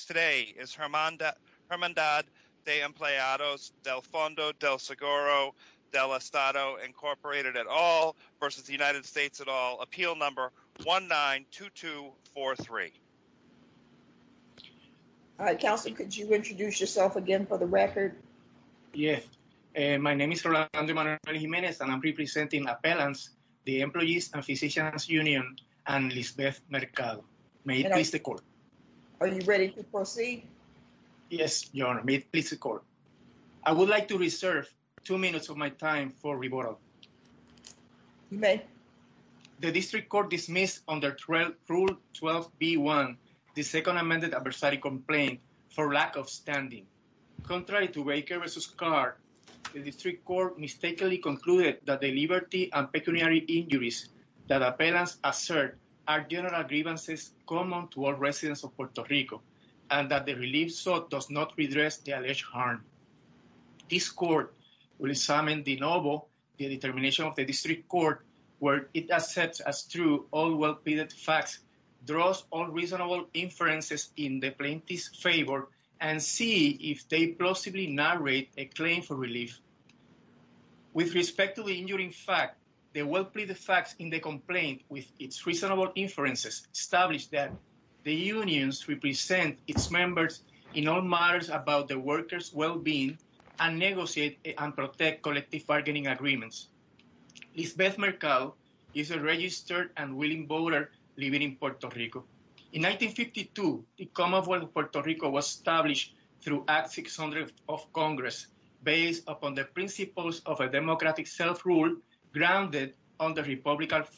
today is Hermandad de Empleados del Fondo del Seguro del Estado Incorporated at All v. United States at All, Appeal Number 192243. Alright, Counselor, could you introduce yourself again for the record? Yes, my name is Rolando Manuel Jimenez and I'm representing Appellants, the Employees and Physicians Union and Lisbeth Mercado. May it please the Court. Are you ready to proceed? Yes, Your Honor. May it please the Court. I would like to reserve two minutes of my time for rebuttal. You may. The District Court dismissed under Rule 12b-1 the Second Amended Adversary Complaint for lack of standing. Contrary to Baker v. Clark, the District Court mistakenly concluded that the Liberty and Pecuniary Injuries that Appellants assert are general grievances common to all residents of Puerto Rico and that the relief sought does not redress the alleged harm. This Court will examine de novo the determination of the District Court where it accepts as true all well-pleaded facts, draws on reasonable inferences in the plaintiff's favor, and see if they possibly narrate a claim for the facts in the complaint with its reasonable inferences established that the unions represent its members in all matters about the workers' well-being and negotiate and protect collective bargaining agreements. Lisbeth Mercado is a registered and willing voter living in Puerto Rico. In 1952, the Commonwealth of Puerto Rico was established through Act 600 of Congress based upon the republican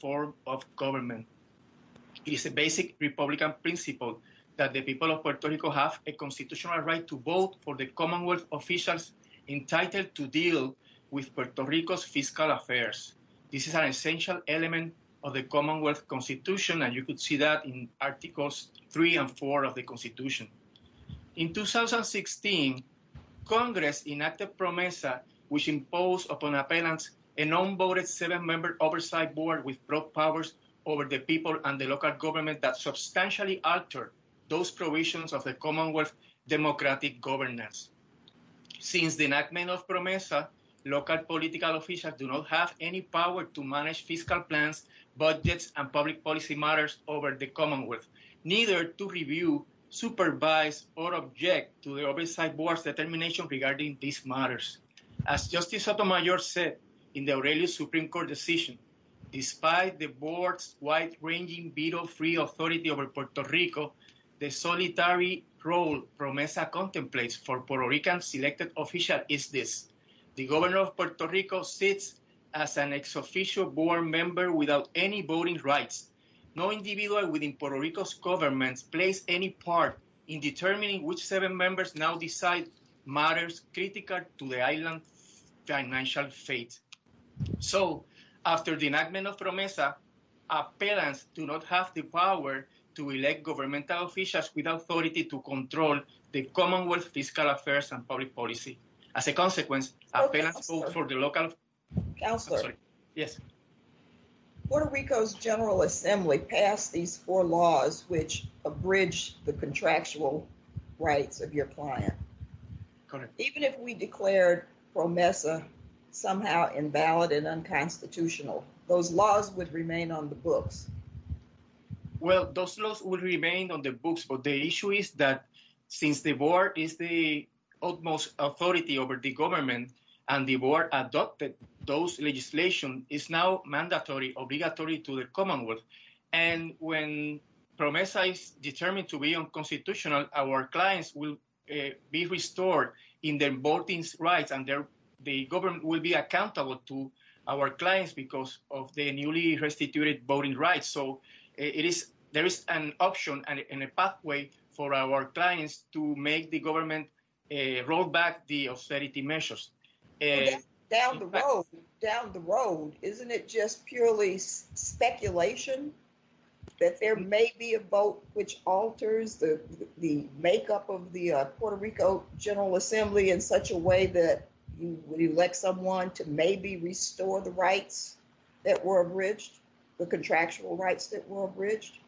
form of government. It is a basic republican principle that the people of Puerto Rico have a constitutional right to vote for the Commonwealth officials entitled to deal with Puerto Rico's fiscal affairs. This is an essential element of the Commonwealth Constitution and you could see that in Articles 3 and 4 of the Constitution. In 2016, Congress enacted PROMESA which imposed upon appellants a non-voted seven-member oversight board with broad powers over the people and the local government that substantially altered those provisions of the Commonwealth democratic governance. Since the enactment of PROMESA, local political officials do not have any power to manage fiscal plans, budgets, and public policy matters over the Commonwealth, neither to review, supervise, or object to the oversight board's determination regarding these matters. As Justice Sotomayor said in the Aurelio Supreme Court decision, despite the board's wide-ranging veto-free authority over Puerto Rico, the solitary role PROMESA contemplates for Puerto Rican selected officials is this. The governor of Puerto Rico sits as an ex-official board member without any voting rights. No individual within Puerto Rico's government plays any part in determining which seven members now decide matters critical to the island's financial fate. So, after the enactment of PROMESA, appellants do not have the power to elect governmental officials with authority to control the Commonwealth fiscal affairs and public policy. As a consequence, appellants vote for the local... Counselor. Yes. Puerto Rico's General Assembly passed these four laws which abridge the contractual rights of your client. Even if we declared PROMESA somehow invalid and unconstitutional, those laws would remain on the books. Well, those laws would remain on the books, but the issue is that since the board is the utmost authority over the government and the board adopted those legislation, it's now mandatory, obligatory to the Commonwealth. And when PROMESA is determined to be unconstitutional, our clients will be restored in their voting rights and the government will be accountable to our clients because of their newly restituted voting rights. So, there is an option and a pathway for our clients to make the government roll back the austerity measures. Down the road, isn't it just purely speculation that there may be a vote which alters the makeup of the Puerto Rico General Assembly in such a way that you elect someone to maybe restore the rights that were abridged, the contractual rights that were abridged?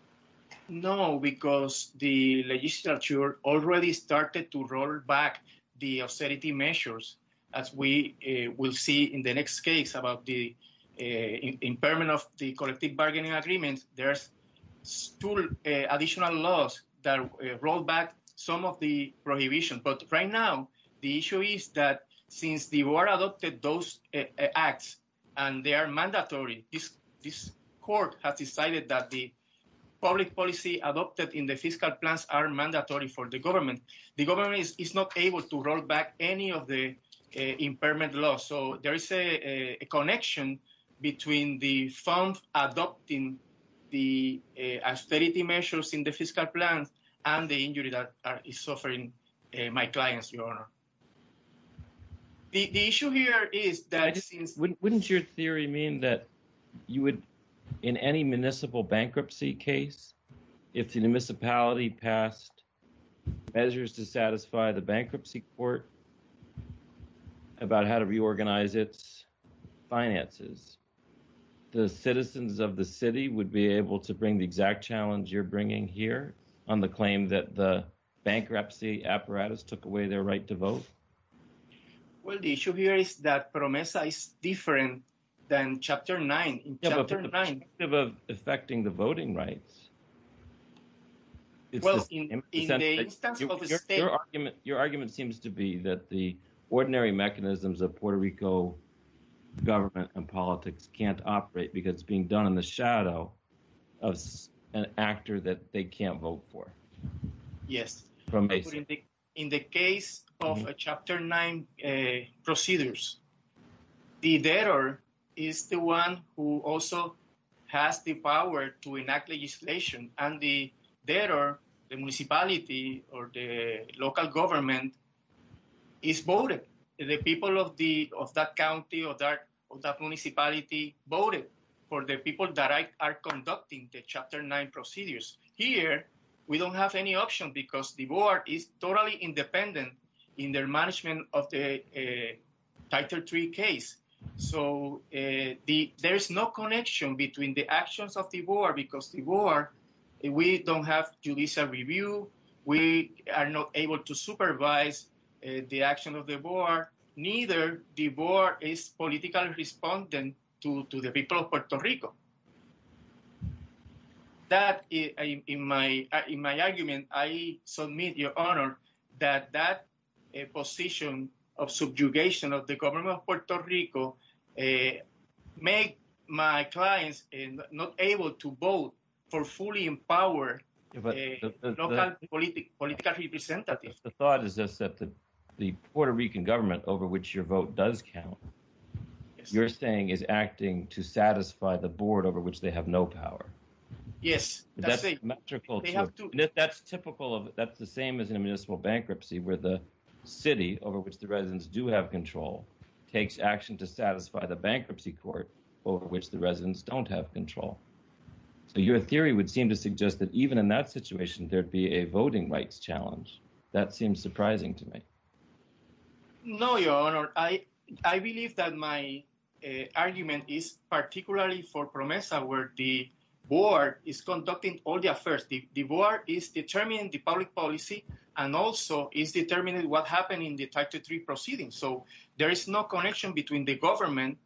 No, because the legislature already started to roll back the austerity measures, as we will see in the next case about the collective bargaining agreement, there's two additional laws that roll back some of the prohibition. But right now, the issue is that since the board adopted those acts and they are mandatory, this court has decided that the public policy adopted in the fiscal plans are mandatory for the government. The government is not able to roll back any of the impairment laws. So, there is a connection between the fund adopting the austerity measures in the fiscal plans and the injury that is suffering my clients, Your Honor. The issue here is that... Wouldn't your theory mean that you would, in any municipal bankruptcy case, if the municipality passed measures to satisfy the bankruptcy court about how to manage their finances, the citizens of the city would be able to bring the exact challenge you're bringing here on the claim that the bankruptcy apparatus took away their right to vote? Well, the issue here is that PROMESA is different than Chapter 9. In terms of affecting the voting rights, your argument seems to be that the ordinary mechanisms of Puerto Rico government and politics can't operate because it's being done in the shadow of an actor that they can't vote for. Yes. In the case of Chapter 9 procedures, the debtor is the one who also has the power to enact legislation and the debtor, the municipality or the government is voted. The people of that county or that municipality voted for the people that are conducting the Chapter 9 procedures. Here, we don't have any option because the board is totally independent in their management of the Title 3 case. So, there is no connection between the actions of the board because the board, we don't have judicial review, we are not able to supervise the action of the board, neither the board is politically respondent to the people of Puerto Rico. That, in my argument, I submit your honor that that position of subjugation of the government of Puerto Rico make my clients not able to vote for fully empowered local political representatives. The thought is that the Puerto Rican government over which your vote does count, you're saying is acting to satisfy the board over which they have no power. Yes. That's typical, that's the same as a municipal bankruptcy where the city over which the residents do have control takes action to satisfy the bankruptcy court over which the would seem to suggest that even in that situation there'd be a voting rights challenge. That seems surprising to me. No, your honor. I believe that my argument is particularly for PROMESA where the board is conducting all the affairs. The board is determining the public policy and also is determining what happened in the Title 3 proceedings. So, there is no connection between the government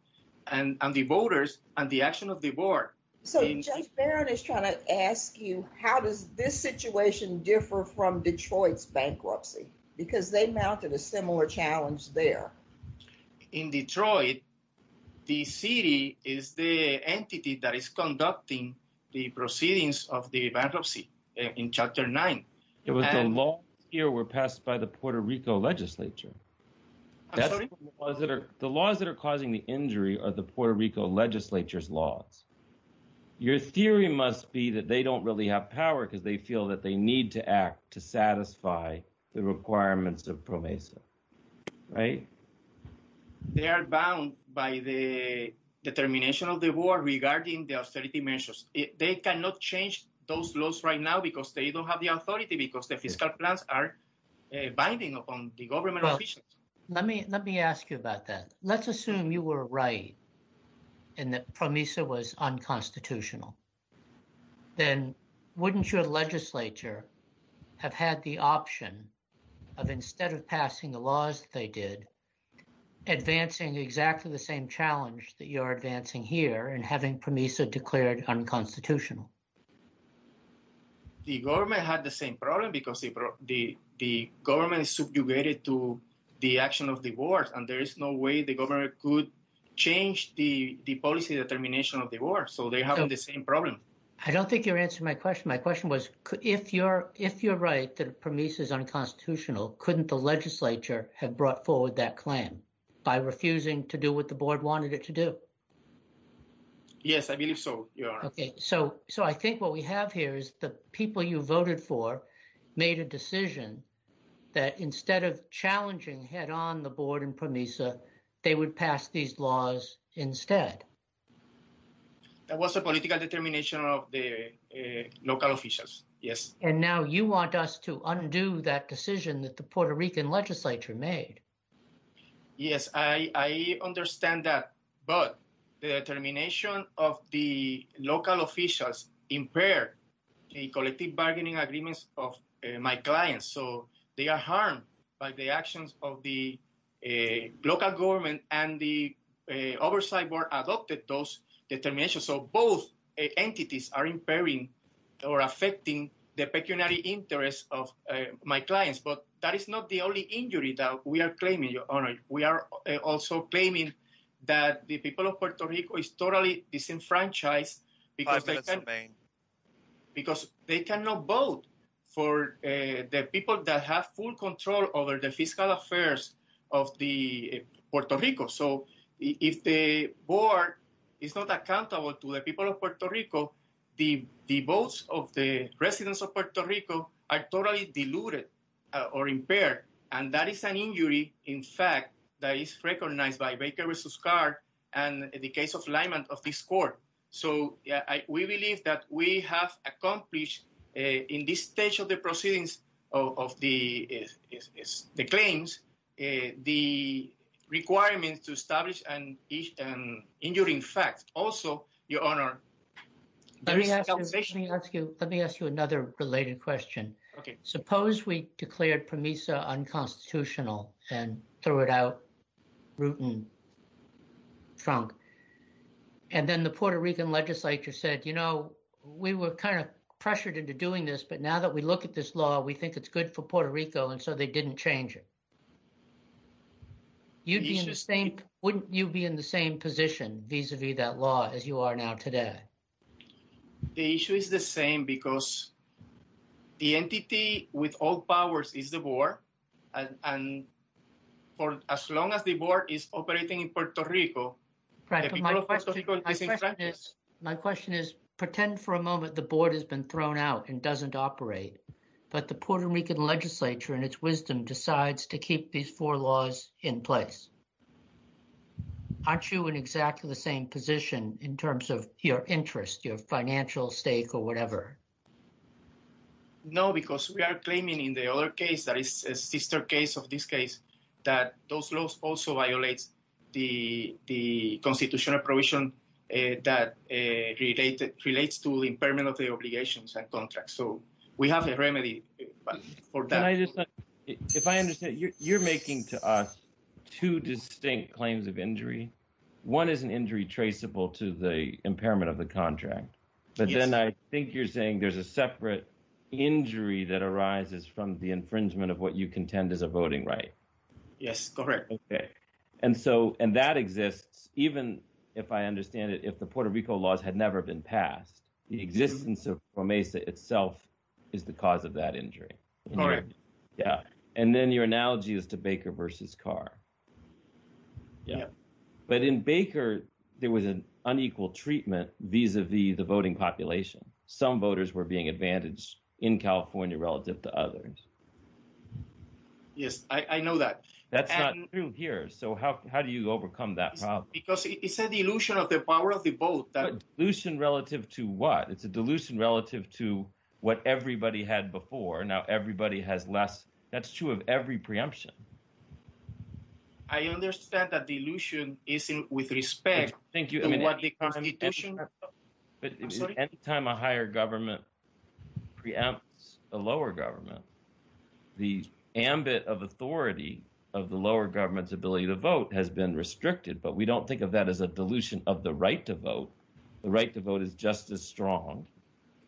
and the voters and the action of the board. So, Judge Barron is trying to ask you, how does this situation differ from Detroit's bankruptcy? Because they mounted a similar challenge there. In Detroit, the city is the entity that is conducting the proceedings of the bankruptcy in Chapter 9. It was the laws here were passed by the Puerto Rico legislature. I'm sorry? The laws that are Puerto Rico legislature's laws. Your theory must be that they don't really have power because they feel that they need to act to satisfy the requirements of PROMESA, right? They are bound by the determination of the board regarding the austerity measures. They cannot change those laws right now because they don't have the authority because the fiscal plans are binding upon the government Let me ask you about that. Let's assume you were right and that PROMESA was unconstitutional. Then, wouldn't your legislature have had the option of, instead of passing the laws that they did, advancing exactly the same challenge that you're advancing here and having PROMESA declared unconstitutional? The government had the same problem because the government is subjugated to the action of the board and there is no way the government could change the policy determination of the board. So, they have the same problem. I don't think you're answering my question. My question was, if you're right that PROMESA is unconstitutional, couldn't the legislature have brought forward that plan by refusing to do what the board wanted it to do? Yes, I believe so, Your Honor. So, I think what we have here is the people you voted for made a decision that instead of challenging head-on the board and PROMESA, they would pass these laws instead. That was a political determination of the local officials, yes. And now you want us to undo that decision that the Puerto Rican legislature made. Yes, I understand that. But the determination of the local officials impaired the collective bargaining agreements of my clients. So, they are harmed by the actions of the local government and the oversight board adopted those determinations. So, both entities are impairing or affecting the pecuniary interests of my clients. That is not the only injury that we are claiming, Your Honor. We are also claiming that the people of Puerto Rico is totally disenfranchised because they cannot vote for the people that have full control over the fiscal affairs of Puerto Rico. So, if the board is not accountable to the people of Puerto Rico, the votes of the people of Puerto Rico are totally diluted or impaired. And that is an injury, in fact, that is recognized by Baker v. Carr and the case of Lyman of this court. So, we believe that we have accomplished, in this stage of the proceedings of the claims, the requirements to establish an injury in fact. Also, Your Honor, there is compensation. Let me ask you another related question. Suppose we declared PROMISA unconstitutional and throw it out, root and trunk, and then the Puerto Rican legislature said, you know, we were kind of pressured into doing this, but now that we look at this law, we think it is good for Puerto Rico, and so they didn't change it. Wouldn't you be in the same position vis-a-vis that law as you are now today? The issue is the same, because the entity with all powers is the board, and for as long as the board is operating in Puerto Rico, the people of Puerto Rico are disenfranchised. My question is, pretend for a moment the board has been thrown out and doesn't operate, but the Puerto Rican legislature, in its wisdom, decides to keep these four laws in place. Aren't you in exactly the same position in terms of your interest, your financial stake, or whatever? No, because we are claiming in the other case that is a sister case of this case that those laws also violate the constitutional provision that relates to the impairment of the obligations and contracts, so we have a remedy for that. If I understand, you are making to us two distinct claims of injury. One is an injury traceable to the impairment of the contract, but then I think you are saying there is a separate injury that arises from the infringement of what you contend is a voting right. Yes, correct. And that exists, even if I understand it, if the Puerto Rico laws had never been passed, the existence of MESA itself is the cause of that injury. And then your analogy is to Baker versus Carr. But in Baker, there was an unequal treatment vis-a-vis the voting population. Some voters were being advantaged in California relative to others. Yes, I know that. That's not true here, so how do you overcome that problem? Because it's a dilution of the power of the vote. A dilution relative to what? It's a dilution relative to what everybody had before. Now everybody has less. That's true of every preemption. I understand that dilution is with respect to the constitution. Any time a higher government preempts a lower government, the ambit of authority of the lower government's ability to vote has been restricted, but we don't think of that as a dilution of the right to vote. The right to vote is just as strong.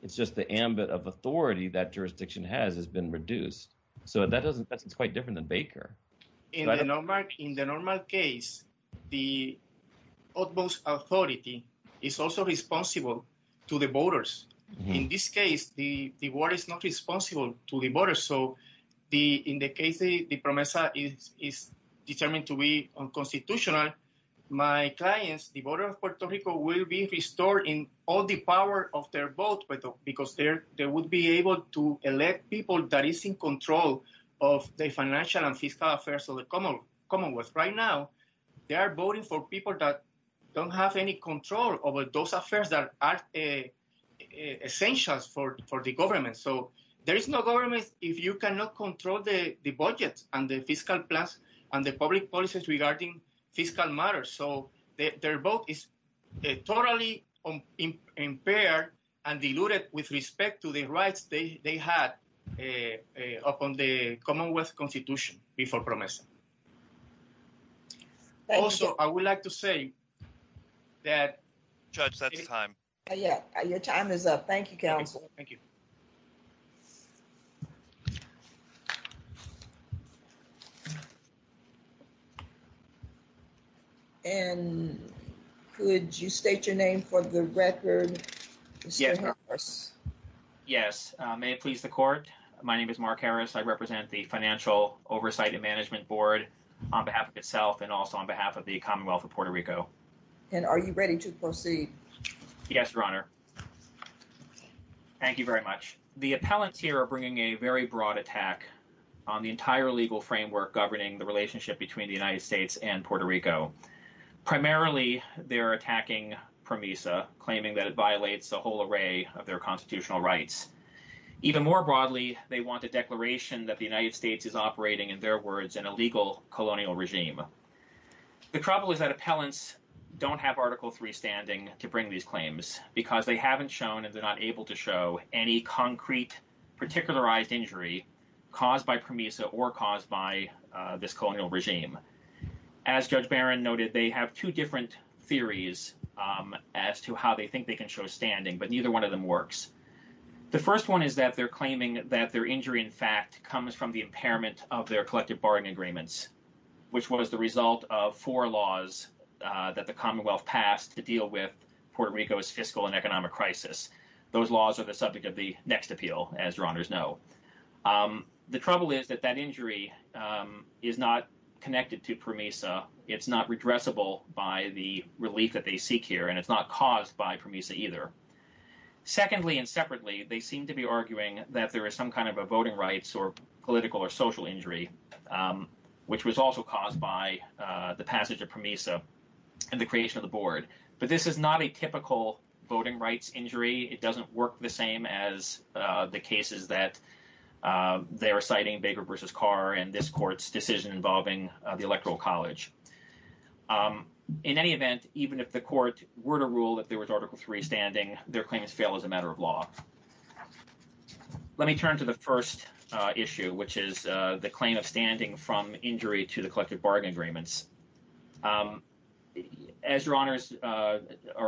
It's just the ambit of authority that jurisdiction has has been reduced. So that's quite different than Baker. In the normal case, the utmost authority is also responsible to the voters. In this case, the water is not responsible to the voters. In the case the PROMESA is determined to be unconstitutional, my clients, the voters of Puerto Rico will be restored in all the power of their vote, because they would be able to elect people that is in control of the financial and fiscal affairs of the commonwealth. Right now, they are voting for people that don't have any control over those affairs that are essential for the government. There is no government if you cannot control the budget and the fiscal plans and the public policies regarding fiscal matters. Their vote is totally impaired and diluted with respect to the rights they had upon the commonwealth constitution before PROMESA. Also, I would like to say that... Judge, that's time. Your time is up. Thank you, counsel. Thank you. And could you state your name for the record, Mr. Harris? Yes. May it please the court. My name is Mark Harris. I represent the Financial Oversight and Management Board on behalf of itself and also on behalf of the commonwealth of Puerto Rico. And are you ready to proceed? Yes, your honor. Thank you very much. The appellants here are bringing a very broad attack on the entire legal framework governing the relationship between the United States and Puerto Rico. Primarily, they're attacking PROMESA, claiming that it violates a whole array of their constitutional rights. Even more broadly, they want a declaration that the United States is operating, in their words, an illegal colonial regime. The trouble is that appellants don't have Article 3 standing to bring these claims because they haven't shown, and they're not able to show, any concrete particularized injury caused by PROMESA or caused by this colonial regime. As Judge Barron noted, they have two different theories as to how they think they can show standing, but neither one of them works. The first one is that they're claiming that their injury, in fact, comes from the impairment of their collective bargaining agreements, which was the result of four laws that the commonwealth passed to deal with Puerto Rico's fiscal and economic crisis. Those laws are the subject of the next appeal, as your honors know. The trouble is that that injury is not connected to PROMESA. It's not redressable by the relief that they seek here, and it's not caused by PROMESA either. Secondly and separately, they seem to be arguing that there is some kind of a voting rights or political or social injury, which was also caused by the passage of PROMESA and the creation of the board. But this is not a typical voting rights injury. It doesn't work the same as the cases that they are citing, Baker v. Carr and this court's decision involving the Electoral College. In any event, even if the court were to rule that there was Article III standing, their claims fail as a matter of law. Let me turn to the first issue, which is the claim of standing from injury to the collective bargaining agreements. As your honors are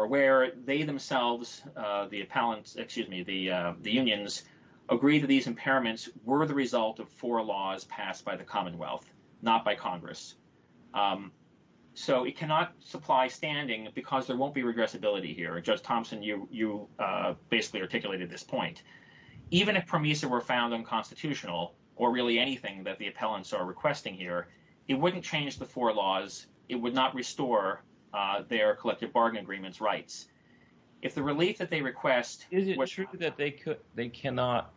aware, they themselves, the appellants, excuse me, the unions, agree that these impairments were the result of four laws passed by the Commonwealth, not by Congress. So it cannot supply standing because there won't be regressibility here. Judge Thompson, you basically articulated this point. Even if PROMESA were found unconstitutional, or really anything that the appellants are requesting here, it wouldn't change the four laws. It would not restore their collective bargaining agreements rights. If the relief that they request... Is it true that they cannot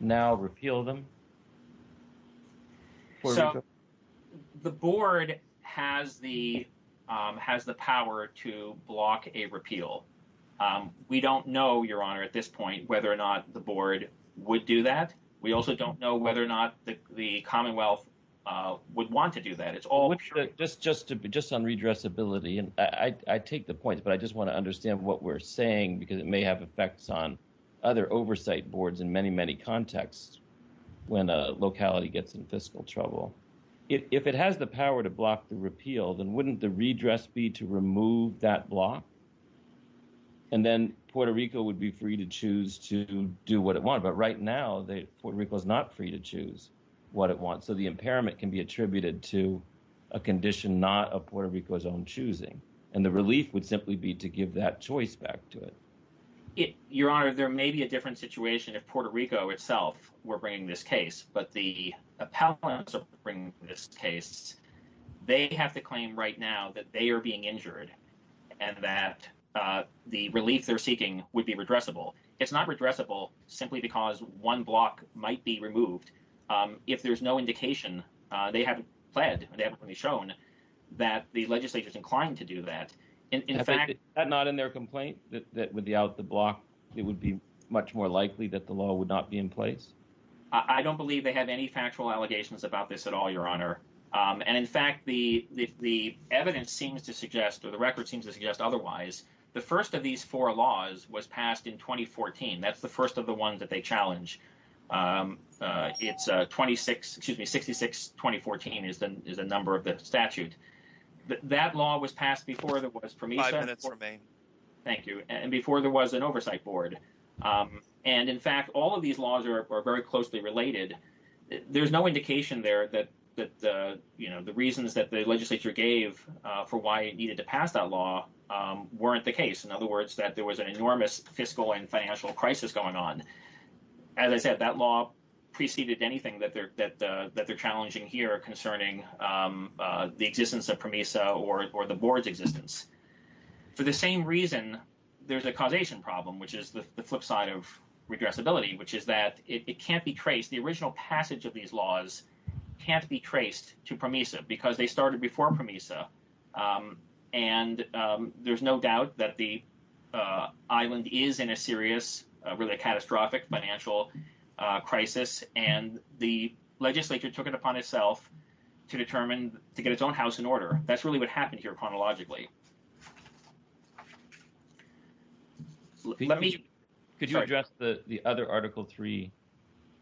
now repeal them? So the board has the power to block a repeal. We don't know, your honor, at this point whether or not the board would do that. We also don't know whether or not the Commonwealth would want to do that. It's all... Just on redressability, and I take the point, but I just want to understand what we're saying, because it may have effects on other oversight boards in many, many contexts when a locality gets in fiscal trouble. If it has the power to block the repeal, then wouldn't the redress be to remove that block? And then Puerto Rico would be free to choose to do what it wants. But right now, Puerto Rico is not free to choose what it wants. So the impairment can be attributed to a condition not of Puerto Rico's own choosing. And the relief would simply be to give that choice back to it. Your honor, there may be a different situation if Puerto Rico itself were bringing this case, but the appellants are bringing this case. They have to claim right now that they are being injured and that the relief they're seeking would be redressable. It's not redressable simply because one block might be removed. If there's no indication, they haven't pled, they haven't been shown that the legislature is inclined to do that. In fact... Is that not in their complaint, that without the block, it would be much more likely that the law would not be in place? I don't believe they have any factual allegations about this at all, your honor. And in fact, the evidence seems to suggest, or the record seems to suggest otherwise, the first of these four laws was passed in 2014. That's the first of the ones that they challenge. It's 26, excuse me, 66-2014 is the number of the statute. That law was passed before there was... Five minutes remain. Thank you. And before there was an oversight board. And in fact, all of these laws are very closely related. There's no indication there that the reasons that the legislature gave for why it needed to pass that law weren't the case. In other words, that there was an enormous fiscal and financial crisis going on. As I said, that law preceded anything that they're challenging here concerning the existence of PROMESA or the board's existence. For the same reason, there's a causation problem, which is the flip side of redressability, which is that it can't be traced. The original passage of these laws can't be traced to PROMESA because they started before PROMESA. And there's no doubt that the island is in a serious, really a catastrophic financial crisis. And the legislature took it upon itself to determine, to get its own house in order. That's really what happened here chronologically. Could you address the other Article 3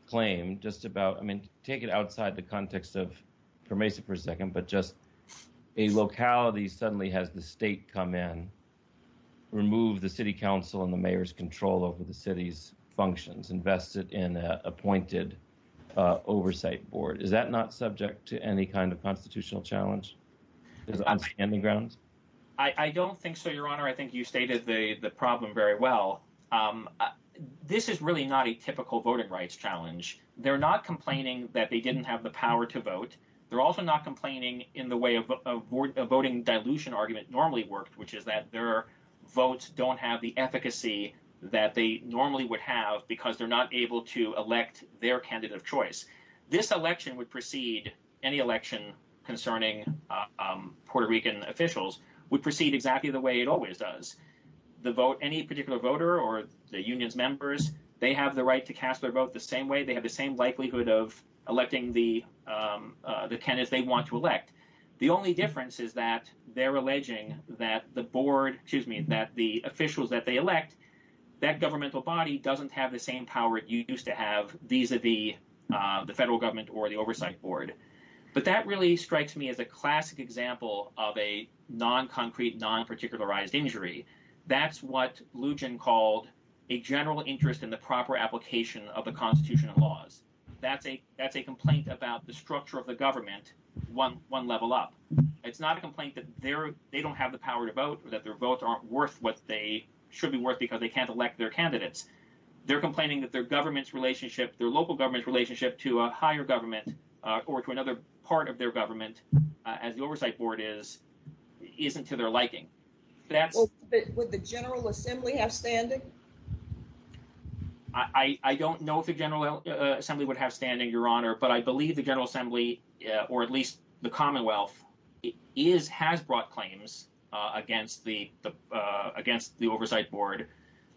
claim just about, take it outside the context of PROMESA for a second, but just a locality suddenly has the state come in, remove the city council and the mayor's control over the city's functions, invest it in an appointed oversight board. Is that not subject to any kind of constitutional challenge? I don't think so, Your Honor. I think you stated the problem very well. This is really not a typical voting rights challenge. They're not complaining that they didn't have the power to vote. They're also not complaining in the way of a voting dilution argument normally worked, which is that their votes don't have the efficacy that they normally would have because they're not able to elect their candidate of choice. This election would proceed, any election concerning Puerto Rican officials, would proceed exactly the way it always does. Any particular voter or the union's members, they have the right to cast their vote the same way. They have the same likelihood of electing the candidates they want to elect. The only difference is that they're alleging that the board, excuse me, that the officials that they elect, that governmental body doesn't have the same power it used to have vis-a-vis the federal government or the oversight board. But that really strikes me as a classic example of a non-concrete, non-particularized injury. That's what Lugin called a general interest in the proper application of the constitutional laws. That's a complaint about the structure of the government one level up. It's not a complaint that they don't have the power to vote or that their votes aren't worth what they should be worth because they can't elect their candidates. They're complaining that their government's relationship, their local government's relationship to a higher government or to another part of their government as the oversight board is, isn't to their liking. Would the General Assembly have standing? I don't know if the General Assembly would have standing, Your Honor, but I believe the General Assembly, or at least the Commonwealth, has brought claims against the oversight board.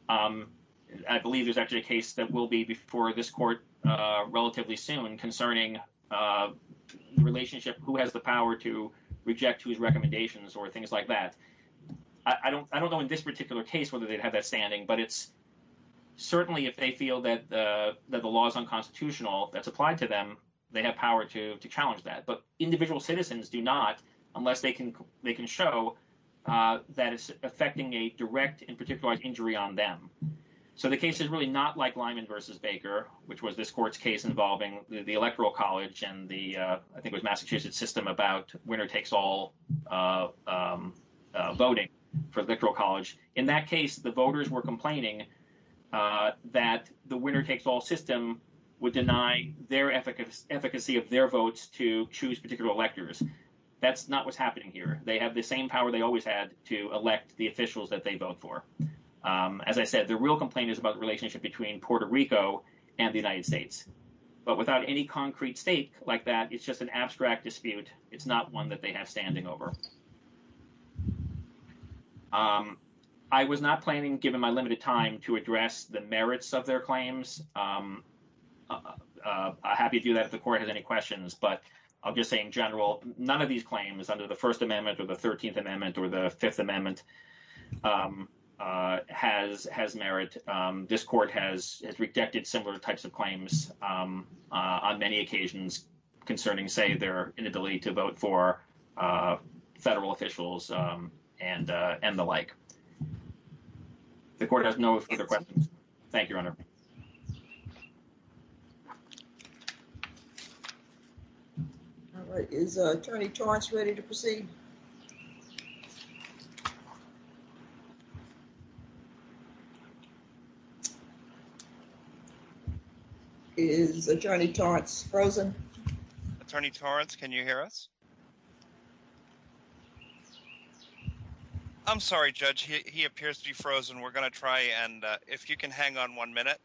I believe there's actually a case that will be before this court relatively soon concerning the relationship, who has the power to reject whose recommendations or things like that. I don't know in this particular case whether they'd have that standing, but it's certainly if they feel that the law is unconstitutional, that's applied to them, they have power to challenge that. But individual citizens do not unless they can show that it's affecting a direct and particular injury on them. The case is really not like Lyman v. Baker, which was this court's case involving the Electoral College and the, I think it was Massachusetts system, about winner takes all voting for the Electoral College. In that case, the voters were complaining that the winner takes all system would deny their efficacy of their votes to choose particular electors. That's not what's happening here. They have the same power they always had to elect the officials that they vote for. As I said, the real complaint is about the relationship between Puerto Rico and the United States. But without any concrete stake like that, it's just an abstract dispute. It's not one that they have standing over. I was not planning, given my limited time, to address the merits of their claims. I'm happy to do that if the court has any questions. But I'll just say in general, none of these claims under the First Amendment or the 13th Amendment or the Fifth Amendment has merit. This court has rejected similar types of claims on many occasions concerning, say, their inability to vote for federal officials and the like. The court has no further questions. Thank you, Your Honor. Is Attorney Torrance ready to proceed? Is Attorney Torrance frozen? Attorney Torrance, can you hear us? I'm sorry, Judge. He appears to be frozen. We're going to try. And if you can hang on one minute.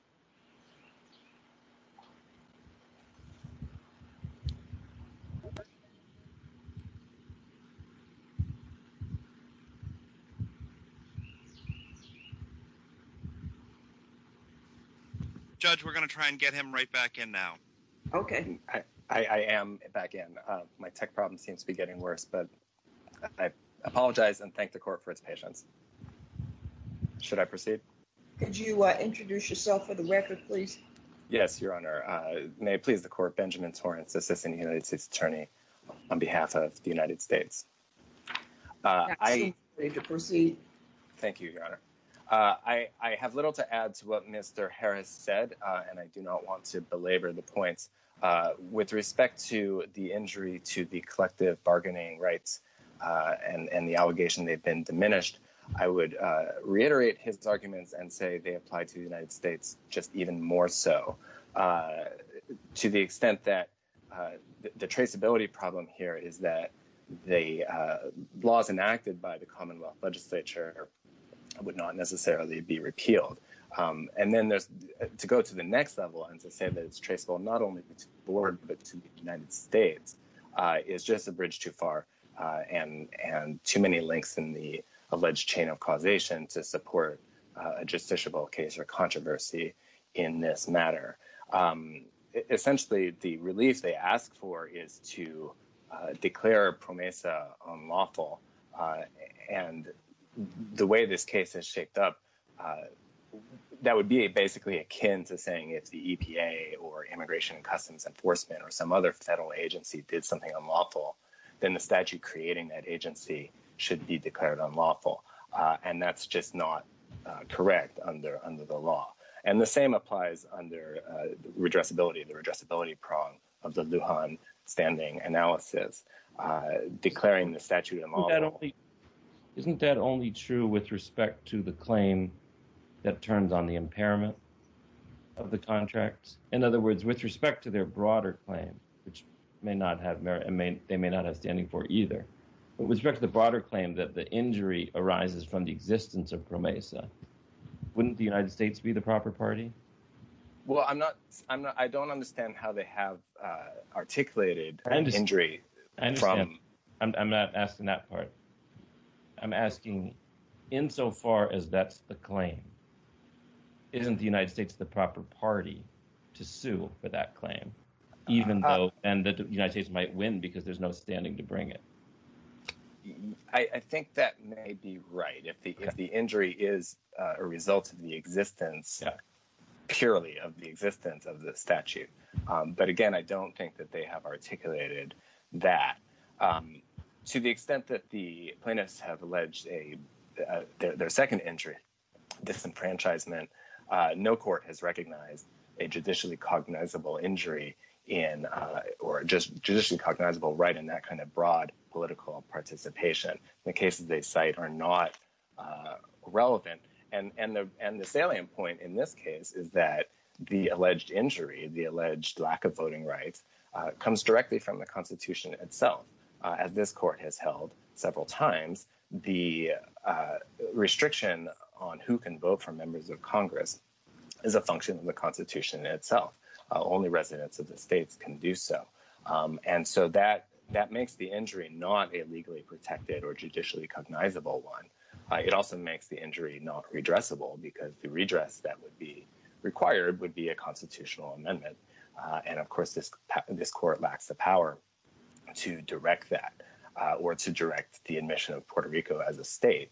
Judge, we're going to try and get him right back in now. Okay. I am back in. My tech problem seems to be getting worse. But I apologize and thank the court for its patience. Should I proceed? Could you introduce yourself for the record, please? Yes, Your Honor. May it please the court, Benjamin Torrance, Assistant United States Attorney, on behalf of the United States. Is he ready to proceed? Thank you, Your Honor. I have little to add to what Mr. Harris said, and I do not want to belabor the point. With respect to the injury to the collective bargaining rights and the allegation they've been diminished, I would reiterate his arguments and say they apply to the United States just even more so. To the extent that the traceability problem here is that the laws enacted by the Commonwealth Legislature would not necessarily be repealed. And then to go to the next level and to say that it's traceable, not only to the board, but to the United States, is just a bridge too far and too many links in the alleged chain of causation to support a justiciable case or controversy in this matter. Essentially, the relief they ask for is to declare PROMESA unlawful. And the way this case is shaped up, that would be basically akin to saying if the EPA or Immigration and Customs Enforcement or some other federal agency did something unlawful, then the statute creating that agency should be declared unlawful. And that's just not correct under the law. And the same applies under redressability, the redressability prong of the Lujan standing analysis, declaring the statute unlawful. Isn't that only true with respect to the claim that turns on the impairment of the contracts? In other words, with respect to their broader claim, which they may not have standing for either, but with respect to the broader claim that the injury arises from the existence of PROMESA, wouldn't the United States be the proper party? Well, I don't understand how they have articulated injury. I'm not asking that part. I'm asking insofar as that's the claim, isn't the United States the proper party to sue for that claim, even though the United States might win because there's no standing to bring it? I think that may be right. If the injury is a result of the existence, purely of the existence of the statute. But again, I don't think that they have articulated that. To the extent that the plaintiffs have alleged their second injury, disenfranchisement, no court has recognized a judicially cognizable injury in or just judicially cognizable right in that kind of broad political participation. The cases they cite are not relevant. And the salient point in this case is that the alleged injury, the alleged lack of voting rights comes directly from the constitution itself. As this court has held several times, the restriction on who can vote for members of Congress is a function of the constitution itself. Only residents of the states can do so. And so that makes the injury not a legally protected or judicially cognizable one. It also makes the injury not redressable because the redress that would be required would be a constitutional amendment. And of course, this court lacks the power to direct that or to direct the admission of Puerto Rico as a state,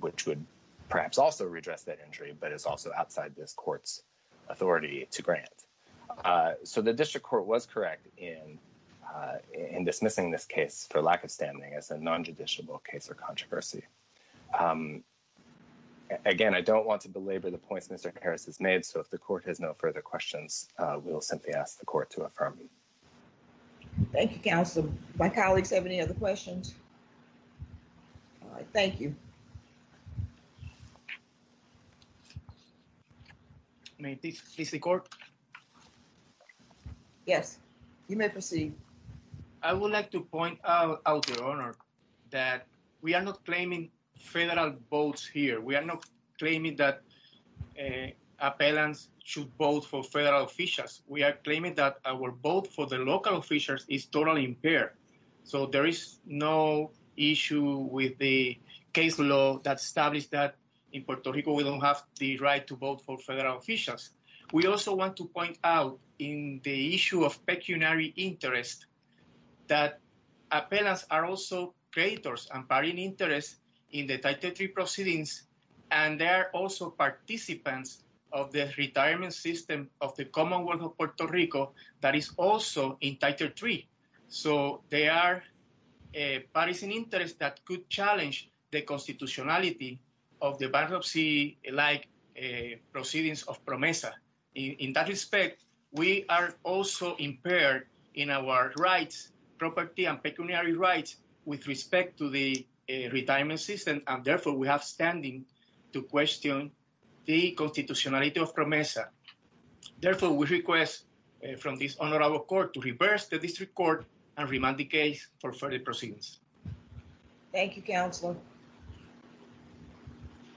which would perhaps also redress that injury, but it's also outside this court's authority to grant. So the district court was correct in dismissing this case for lack of standing as a non-judiciable case or controversy. Again, I don't want to belabor the points Mr. Harris has made. So if the court has no further questions, we'll simply ask the court to affirm. Thank you, counsel. My colleagues have any other questions? All right, thank you. May I please the court? Yes, you may proceed. I would like to point out your honor that we are not claiming federal votes here. We are not claiming that appellants should vote for federal officials. We are claiming that our vote for the local officials is totally impaired. So there is no issue with the case law that established that in Puerto Rico, we don't have the right to vote for federal officials. We also want to point out in the issue of pecuniary interest that appellants are also creators and party interests in the Title III proceedings. And they are also participants of the retirement system of the Commonwealth of Puerto Rico that is also in Title III. So they are parties in interest that could challenge the constitutionality of the bankruptcy-like proceedings of PROMESA. In that respect, we are also impaired in our rights, property and pecuniary rights with respect to the retirement system. And therefore, we have standing to question the constitutionality of PROMESA. Therefore, we request from this honorable court to reverse the district court and remand the case for further proceedings. Thank you, counselor.